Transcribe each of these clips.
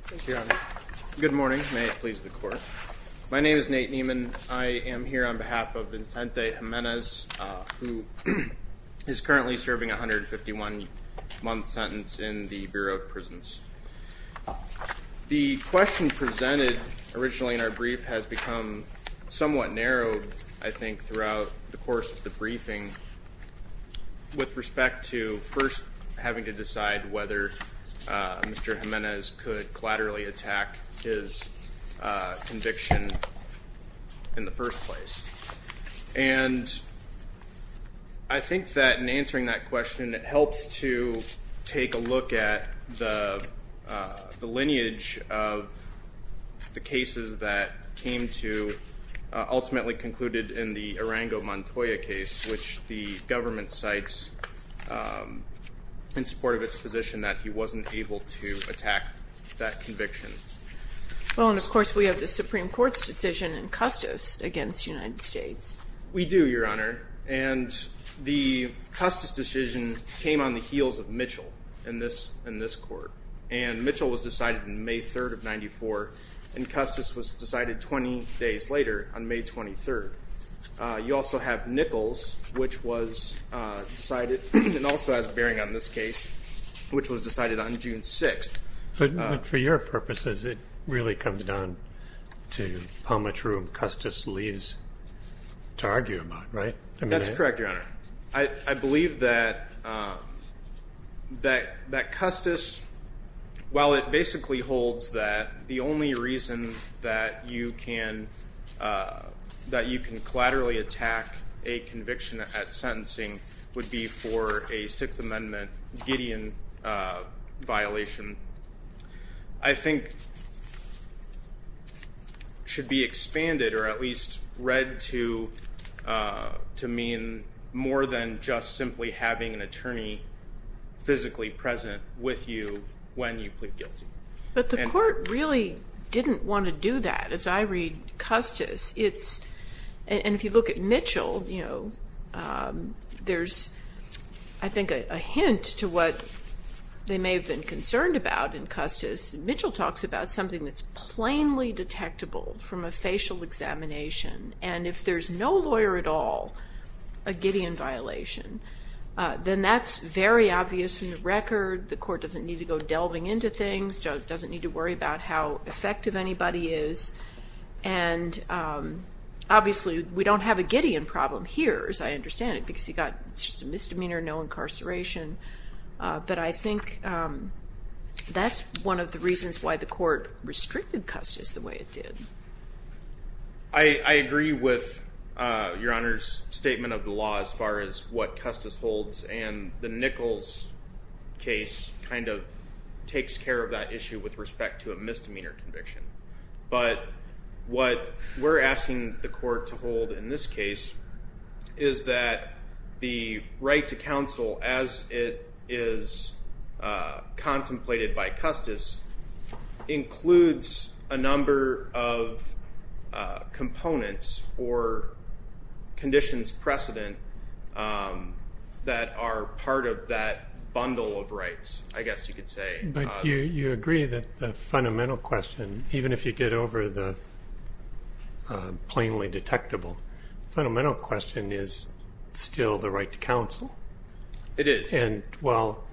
Thank you. Good morning. May it please the court. My name is Nate Nieman. I am here on behalf of Vincente Jimenes, who is currently serving a 151-month sentence in the Bureau of Prisons. The question presented originally in our brief has become somewhat narrowed, I think, throughout the course of the briefing with respect to first having to decide whether Mr. Jimenes could collaterally attack his conviction in the first place. And I think that in answering that question, it helps to take a look at the lineage of the cases that came to, ultimately concluded in the Arango Montoya case, which the government cites in support of its position that he wasn't able to attack that conviction. Well, and of course, we have the Supreme Court's decision in Custis against United States. We do, Your Honor. And the Custis decision came on the heels of Mitchell in this court. And Mitchell was decided in May 3rd of 94, and Custis was decided 20 days later on May 23rd. You also have Nichols, which was decided, and also has bearing on this case, which was decided on June 6th. But for your purposes, it really comes down to how much room Custis leaves to argue about, right? That's correct, Your Honor. I believe that Custis, while it basically holds that the only reason that you can collaterally attack a conviction at sentencing would be for a Sixth Amendment Gideon violation, I think should be expanded, or at least read to mean more than just simply having an attorney physically present with you when you plead guilty. But the court really didn't want to do that. As I Custis, it's, and if you look at Mitchell, you know, there's, I think, a hint to what they may have been concerned about in Custis. Mitchell talks about something that's plainly detectable from a facial examination. And if there's no lawyer at all, a Gideon violation, then that's very obvious from the record. The court doesn't need to go delving into things, doesn't need to worry about how effective anybody is. And obviously, we don't have a Gideon problem here, as I understand it, because he got just a misdemeanor, no incarceration. But I think that's one of the reasons why the court restricted Custis the way it did. I agree with Your Honor's statement of the law as far as what Custis holds. And the Nichols case kind of takes care of that issue with respect to a misdemeanor conviction. But what we're asking the court to hold in this case is that the right to counsel, as it is contemplated by Custis, includes a number of components or conditions precedent that are part of that bundle of rights, I guess you could say. But you agree that the fundamental question, even if you get over the plainly detectable, the fundamental question is still the right to counsel. It is. And while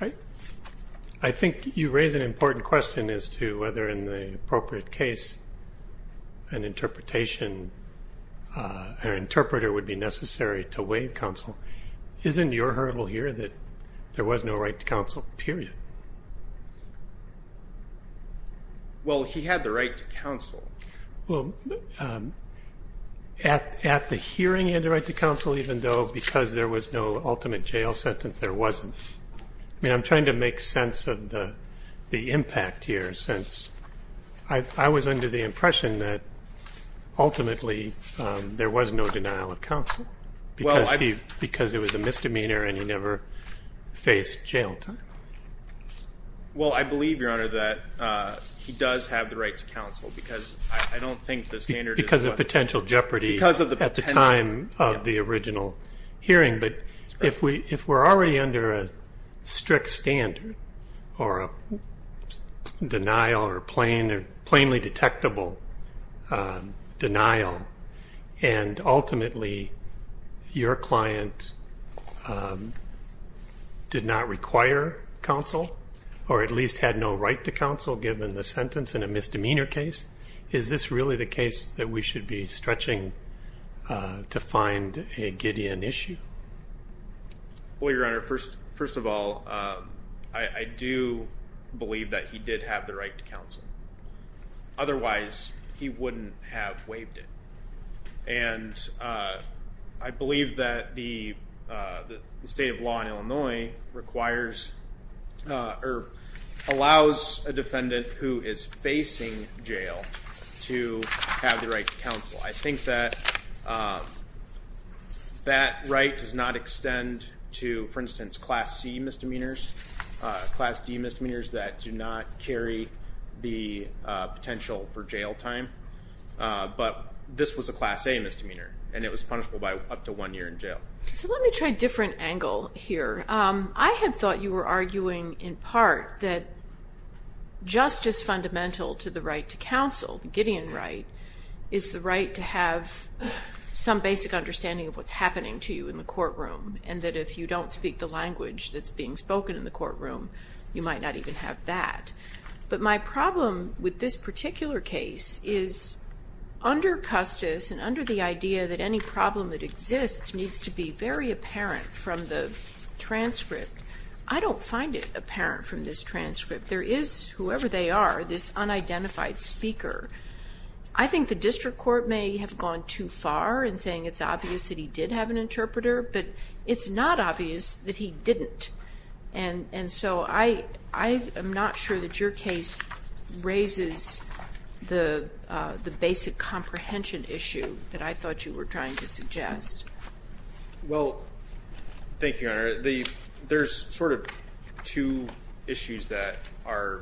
I think you raise an important question as to whether in the appropriate case an interpretation, an interpreter would be necessary to waive counsel, isn't your hurdle here that there was no right to counsel, period? Well, he had the right to counsel. Well, at the hearing, he had the right to counsel, even though because there was no ultimate jail sentence, there wasn't. I mean, I'm trying to make sense of the impression that ultimately there was no denial of counsel because it was a misdemeanor and he never faced jail time. Well, I believe, Your Honor, that he does have the right to counsel because I don't think the standard is... Because of potential jeopardy at the time of the original hearing. If we're already under a strict standard or a denial or plainly detectable denial and ultimately your client did not require counsel or at least had no right to counsel given the sentence in a misdemeanor case, is this really the case that we should be stretching to find a Gideon issue? Well, Your Honor, first of all, I do believe that he did have the right to counsel. Otherwise, he wouldn't have waived it. And I believe that the state of law in Illinois requires or allows a defendant who is facing I think that that right does not extend to, for instance, Class C misdemeanors, Class D misdemeanors that do not carry the potential for jail time. But this was a Class A misdemeanor and it was punishable by up to one year in jail. So let me try a different angle here. I had thought you were arguing in part that just as fundamental to the right to counsel, the Gideon right is the right to have some basic understanding of what's happening to you in the courtroom and that if you don't speak the language that's being spoken in the courtroom, you might not even have that. But my problem with this particular case is under Custis and under the idea that any problem that exists needs to be very apparent from the transcript, I don't find it apparent from this transcript. There is, whoever they are, this unidentified speaker. I think the district court may have gone too far in saying it's obvious that he did have an interpreter, but it's not obvious that he didn't. And so I am not sure that your case raises the basic comprehension issue that I thought you were trying to suggest. Well, thank you, Your Honor. There's sort of two issues that are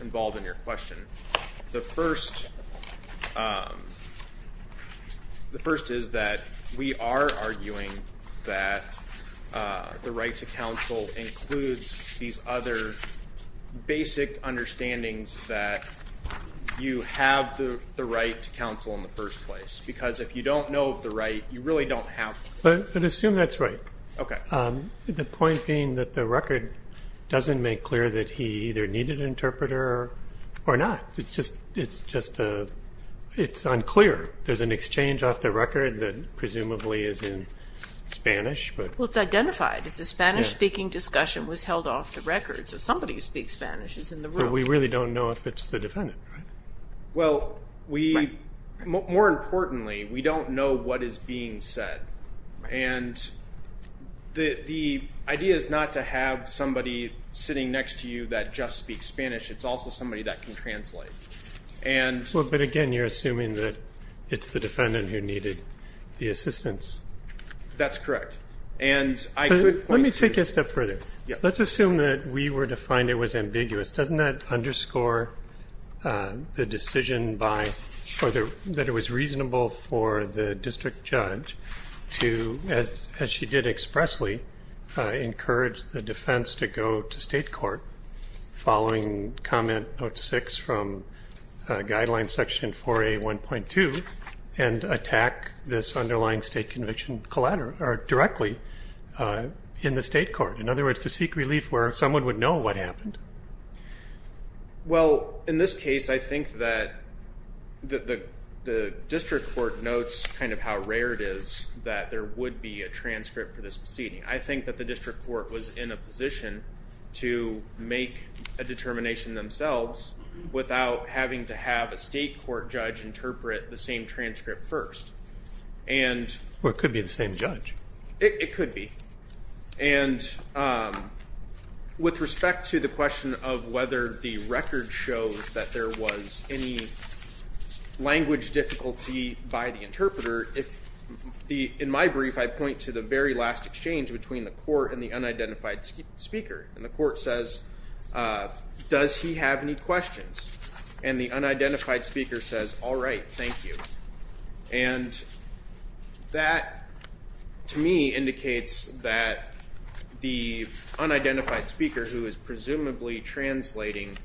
involved in your question. The first is that we are arguing that the right to counsel includes these other basic understandings that you have the right to counsel in the first place. Because if you don't know of the right, you really don't have one. But assume that's right. Okay. The point being that the record doesn't make clear that he either needed an interpreter or not. It's just unclear. There's an exchange off the record that presumably is in Spanish. Well, it's identified. It's a Spanish-speaking discussion was held off the record. So somebody who speaks Spanish is in the room. We really don't know if it's the defendant. Well, more importantly, we don't know what is being said. And the idea is not to have somebody sitting next to you that just speaks Spanish. It's also somebody that can translate. But again, you're assuming that it's the defendant who needed the assistance. That's correct. Let me take it a step further. Let's assume that we were to find it was ambiguous. Doesn't that underscore the decision that it was reasonable for the district judge to, as she did expressly, encourage the defense to go to state court following comment note six from guideline section 4A1.2 and attack this underlying state conviction directly in the state court? In other words, to seek relief where someone would know what happened. Well, in this case, I think that the district court notes how rare it is that there would be a transcript for this proceeding. I think that the district court was in a position to make a determination themselves without having to have a state court judge interpret the same transcript first. Or it could be the same judge. It could be. And with respect to the question of whether the record shows that there was any language difficulty by the interpreter, in my brief, I point to the very last exchange between the court and the unidentified speaker. And the court says, does he have any questions? And the unidentified speaker says, all right, thank you. And that, to me, indicates that the unidentified speaker, who is presumably translating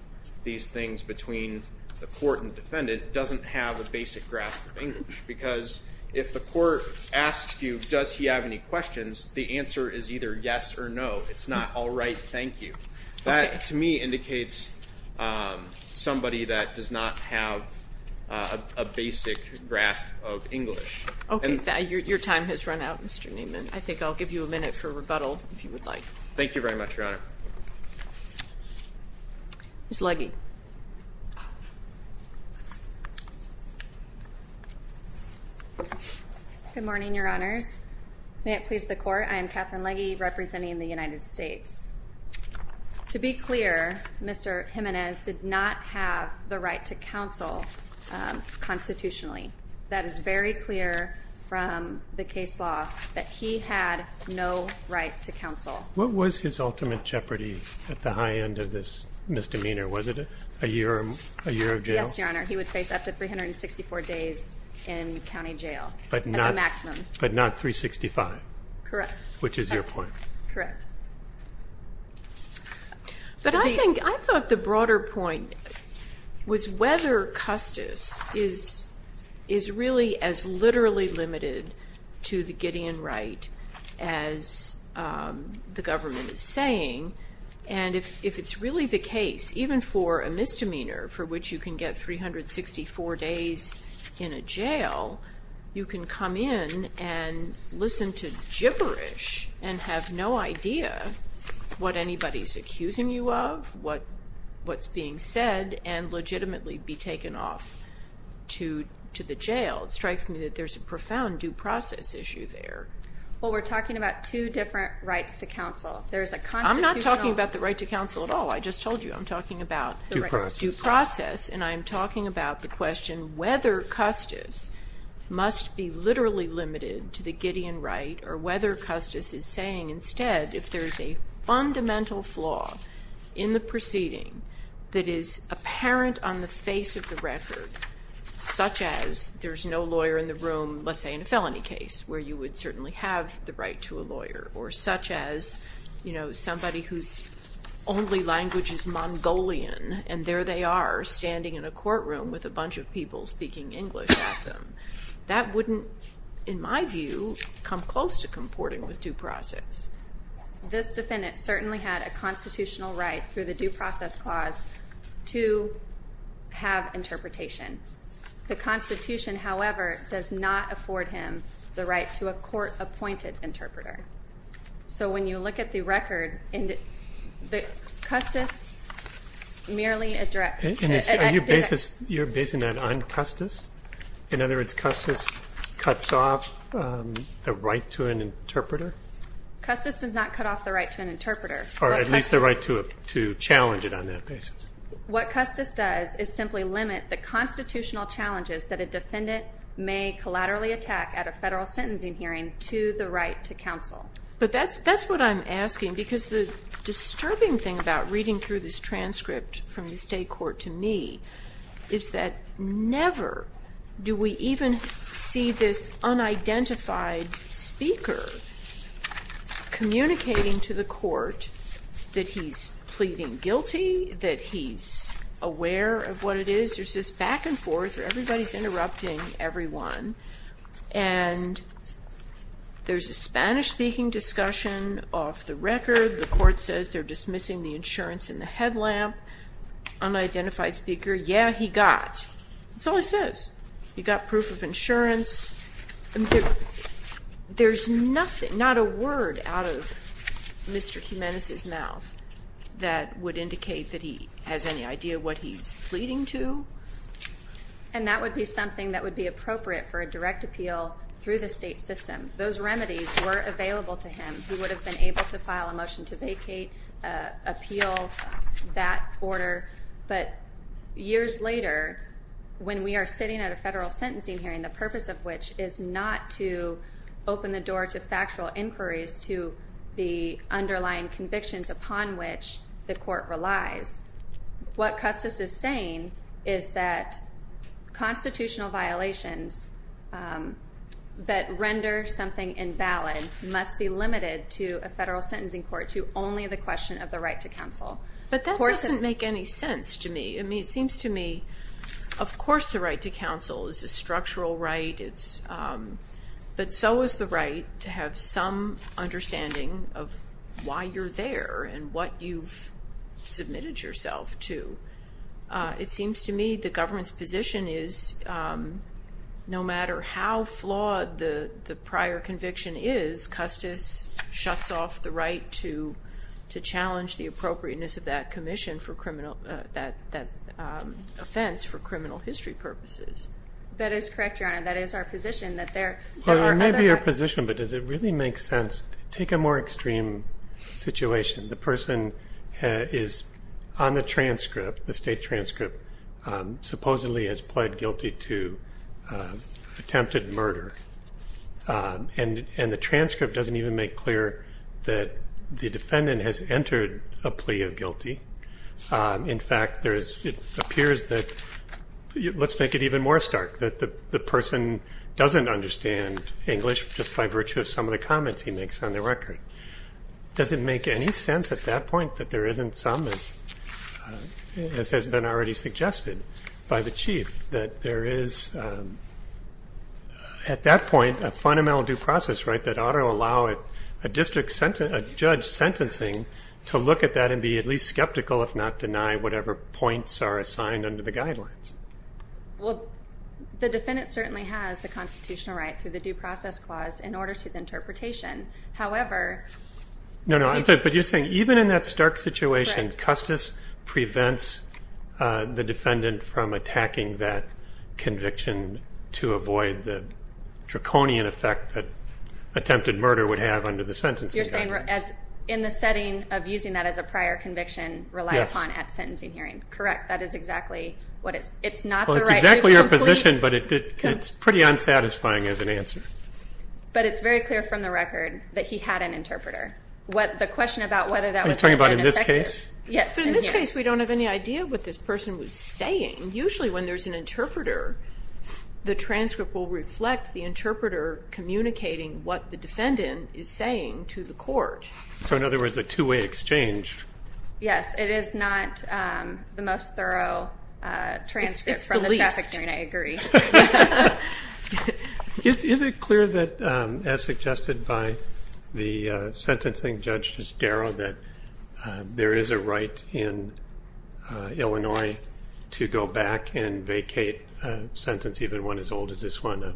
these things between the court and defendant, doesn't have a basic grasp of English. Because if the court asks you, does he have any questions, the answer is either yes or no. It's not, all right, thank you. That, to me, indicates somebody that does not have a basic grasp of English. OK, your time has run out, Mr. Neiman. I think I'll give you a minute for rebuttal, if you would like. Thank you very much, Your Honor. Ms. Legge. Good morning, Your Honors. May it please the court, I am Catherine Legge, representing the United States. To be clear, Mr. Jimenez did not have the right to counsel constitutionally. That is very clear from the case law, that he had no right to counsel. What was his ultimate jeopardy at the high end of this misdemeanor? Was it a year of jail? Yes, Your Honor. He would face up to 364 days in county jail, at the maximum. But not 365? Correct. Which is your point? Correct. But I think, I thought the broader point was whether Custis is really as literally limited to the Gideon right as the government is saying. And if it's really the case, even for a misdemeanor, for which you can get 364 days in a jail, you can come in and listen to gibberish and have no idea what anybody's accusing you of, what's being said, and legitimately be taken off to the jail. It strikes me that there's a profound due process issue there. Well, we're talking about two different rights to counsel. There's a constitutional- I'm not talking about the right to counsel at all. I just told you I'm talking about- Due process. Due process. And I'm talking about the question whether Custis must be literally limited to the Gideon right, or whether Custis is saying instead, if there's a fundamental flaw in the proceeding that is apparent on the face of the record, such as there's no lawyer in the room, let's say in a felony case, where you would certainly have the right to a lawyer, or such as, you know, somebody whose only language is Mongolian, and there they are standing in a courtroom with a bunch of people speaking English at them. That wouldn't, in my view, come close to comporting with due process. This defendant certainly had a constitutional right through the due process clause to have interpretation. The Constitution, however, does not afford him the right to a court-appointed interpreter. So when you look at the record, Custis merely addressed- Are you basing that on Custis? In other words, Custis cuts off the right to an interpreter? Custis does not cut off the right to an interpreter. Or at least the right to challenge it on that basis. What Custis does is simply limit the constitutional challenges that a defendant may collaterally attack at a federal sentencing hearing to the right to counsel. But that's what I'm asking. Because the disturbing thing about reading through this transcript from the state court to me is that never do we even see this unidentified speaker communicating to the court that he's pleading guilty, that he's aware of what it is. There's this back and forth where everybody's interrupting everyone. And there's a Spanish-speaking discussion off the record. The court says they're dismissing the insurance in the headlamp. Unidentified speaker, yeah, he got. That's all it says. He got proof of insurance. There's nothing, not a word out of Mr. Jimenez's mouth that would indicate that he has any idea what he's pleading to. And that would be something that would be appropriate for a direct appeal through the state system. Those remedies were available to him. He would have been able to file a motion to vacate, appeal that order. But years later, when we are sitting at a federal sentencing hearing, the purpose of which is not to open the door to factual inquiries to the underlying convictions upon which the court relies. What Custis is saying is that constitutional violations that render something invalid must be limited to a federal sentencing court to only the question of the right to counsel. But that doesn't make any sense to me. I mean, it seems to me, of course, the right to counsel is a structural right. But so is the right to have some understanding of why you're there and what you've submitted yourself to. It seems to me the government's position is, no matter how flawed the prior conviction is, Custis shuts off the right to challenge the appropriateness of that commission for criminal, that offense for criminal history purposes. That is correct, Your Honor. That is our position, that there are other- Well, it may be your position, but does it really make sense? Take a more extreme situation. The person is on the transcript, the state transcript, supposedly has pled guilty to attempted murder. And the transcript doesn't even make clear that the defendant has entered a plea of guilty. In fact, it appears that- Let's make it even more stark, that the person doesn't understand English just by virtue of some of the comments he makes on the record. Does it make any sense at that point that there isn't some, as has been already suggested by the Chief, that there is, at that point, a fundamental due process right that ought to allow a judge sentencing to look at that and be at least skeptical, if not deny, whatever points are assigned under the guidelines? Well, the defendant certainly has the constitutional right through the Due Process Clause in order to the interpretation. However- No, no, but you're saying even in that stark situation, Custis prevents the defendant from attacking that conviction to avoid the draconian effect that attempted murder would have under the sentencing guidelines. You're saying in the setting of using that as a prior conviction, relied upon at sentencing hearing. Correct. That is exactly what it's- It's not the right- Well, it's exactly your position, but it's pretty unsatisfying as an answer. But it's very clear from the record that he had an interpreter. What the question about whether that was- Are you talking about in this case? Yes. In this case, we don't have any idea what this person was saying. Usually when there's an interpreter, the transcript will reflect the interpreter communicating what the defendant is saying to the court. So in other words, a two-way exchange. Yes, it is not the most thorough transcript from the trafficking, I agree. Is it clear that, as suggested by the sentencing judge, Judge Darrow, that there is a right in Illinois to go back and vacate a sentence, even one as old as this one?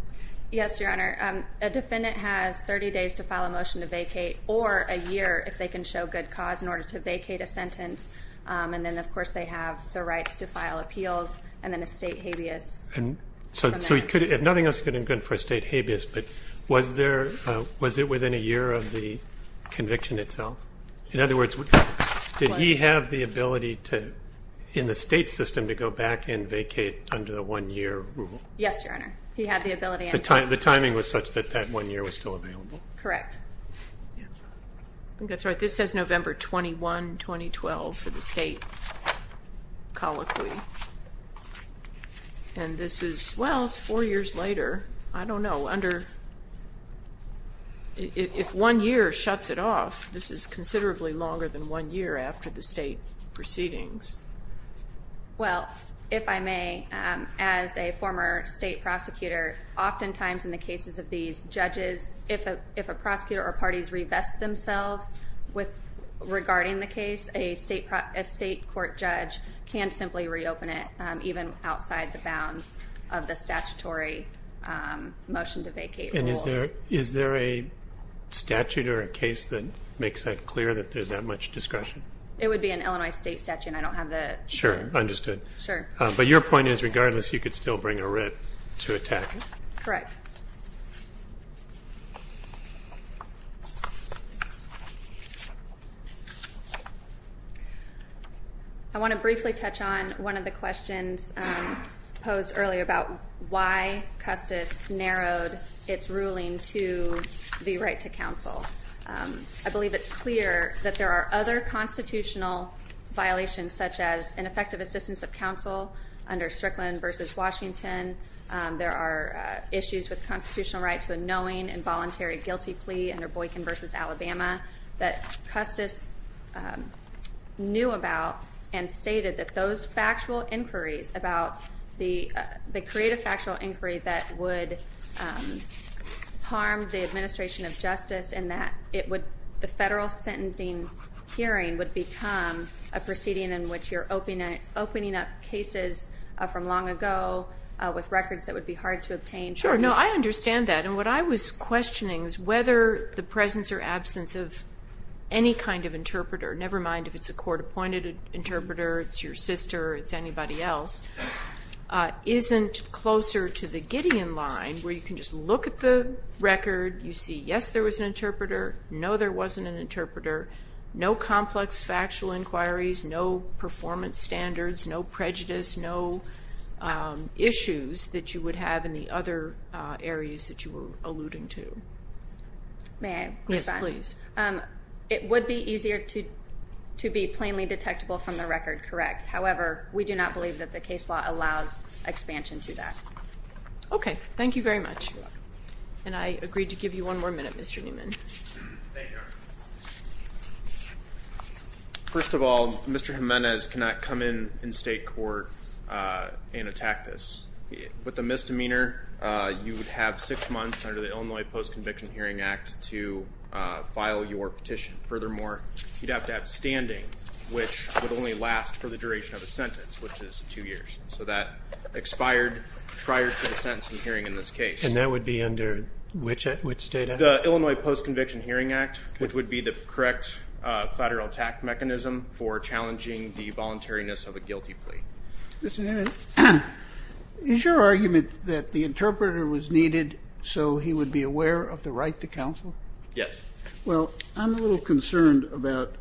Yes, Your Honor. A defendant has 30 days to file a motion to vacate or a year if they can show good cause in order to vacate a sentence. And then, of course, they have the rights to file appeals and then a state habeas. So if nothing else could have been good for a state habeas, but was it within a year of the conviction itself? In other words, did he have the ability in the state system to go back and vacate under the one-year rule? Yes, Your Honor. He had the ability and time. The timing was such that that one year was still available. Correct. I think that's right. This says November 21, 2012 for the state colloquy. And this is, well, it's four years later. I don't know. Under, if one year shuts it off, this is considerably longer than one year after the state proceedings. Well, if I may, as a former state prosecutor, oftentimes in the cases of these judges, if a prosecutor or parties revest themselves regarding the case, a state court judge can simply reopen it, even outside the bounds of the statutory motion to vacate. And is there a statute or a case that makes that clear that there's that much discretion? It would be an Illinois state statute. I don't have that. Sure. Understood. Sure. But your point is, regardless, you could still bring a writ to attack. Correct. I want to briefly touch on one of the questions posed earlier about why Custis narrowed its ruling to the right to counsel. I believe it's clear that there are other constitutional violations, such as ineffective assistance of counsel under Strickland versus Washington. There are issues with constitutional right to a knowing involuntary guilty plea under Boykin versus Alabama that Custis knew about and stated that those factual inquiries about the creative factual inquiry that would harm the administration of justice, and that the federal sentencing hearing would become a proceeding in which you're opening up cases from long ago with records that would be hard to obtain. Sure. No, I understand that. What I was questioning is whether the presence or absence of any kind of interpreter, never mind if it's a court-appointed interpreter, it's your sister, it's anybody else, isn't closer to the Gideon line, where you can just look at the record, you see, yes, there was an interpreter, no, there wasn't an interpreter, no complex factual inquiries, no performance standards, no prejudice, no issues that you would have in the other areas that you were alluding to. May I respond? Yes, please. It would be easier to be plainly detectable from the record, correct? However, we do not believe that the case law allows expansion to that. Okay. Thank you very much. And I agree to give you one more minute, Mr. Newman. Thank you. First of all, Mr. Jimenez cannot come in in state court and attack this. With a misdemeanor, you would have six months under the Illinois Post-Conviction Hearing Act to file your petition. Furthermore, you'd have to have standing, which would only last for the duration of a sentence, which is two years. So that expired prior to the sentence and hearing in this case. And that would be under which state act? The Illinois Post-Conviction Hearing Act, which would be the correct collateral attack mechanism for challenging the voluntariness of a guilty plea. Mr. Jimenez, is your argument that the interpreter was needed so he would be aware of the right to counsel? Yes. Well, I'm a little concerned about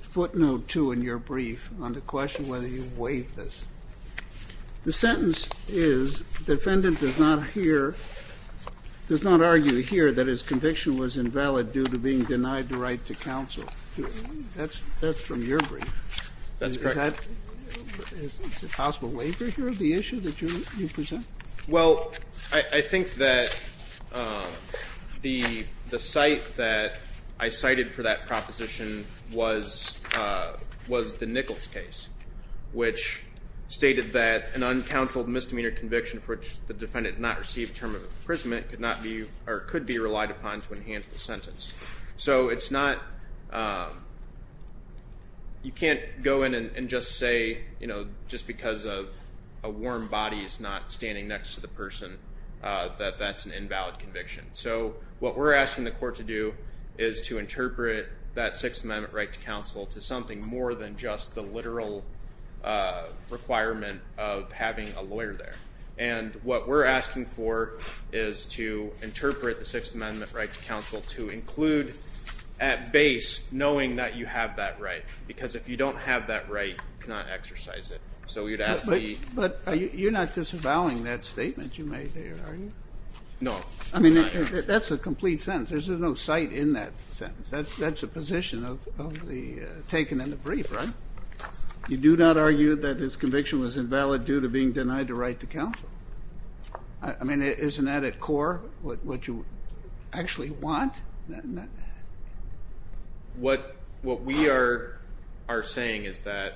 footnote two in your brief on the question whether you've waived this. The sentence is, defendant does not hear, does not argue here that his conviction was invalid due to being denied the right to counsel. That's from your brief. That's correct. Is it a possible waiver here of the issue that you present? Well, I think that the site that I cited for that proposition was the Nichols case, which stated that an uncounseled misdemeanor conviction for which the defendant did not receive a term of imprisonment could be relied upon to enhance the sentence. So it's not, you can't go in and just say, you know, just because a warm body is not standing next to the person that that's an invalid conviction. So what we're asking the court to do is to interpret that Sixth Amendment right to counsel to something more than just the literal requirement of having a lawyer there. And what we're asking for is to interpret the Sixth Amendment right to counsel to include at base, knowing that you have that right, because if you don't have that right, you cannot exercise it. So we would ask the... But you're not disavowing that statement you made there, are you? No. I mean, that's a complete sentence. There's no site in that sentence. That's a position of the taken in the brief, right? You do not argue that his conviction was invalid due to being denied the right to counsel. I mean, isn't that at core what you actually want? What we are saying is that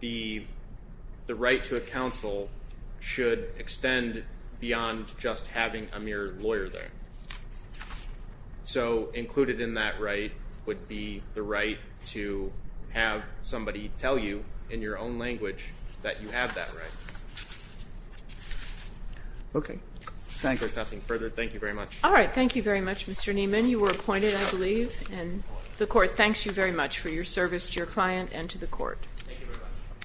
the right to a counsel should extend beyond just having a mere lawyer there. So included in that right would be the right to have somebody tell you in your own language that you have that right. Okay. Thank you. There's nothing further. Thank you very much. All right. Thank you very much, Mr. Nieman. You were appointed, I believe. And the court thanks you very much for your service to your client and to the court.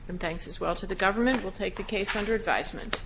And thanks as well to the government. We'll take the case under advisement.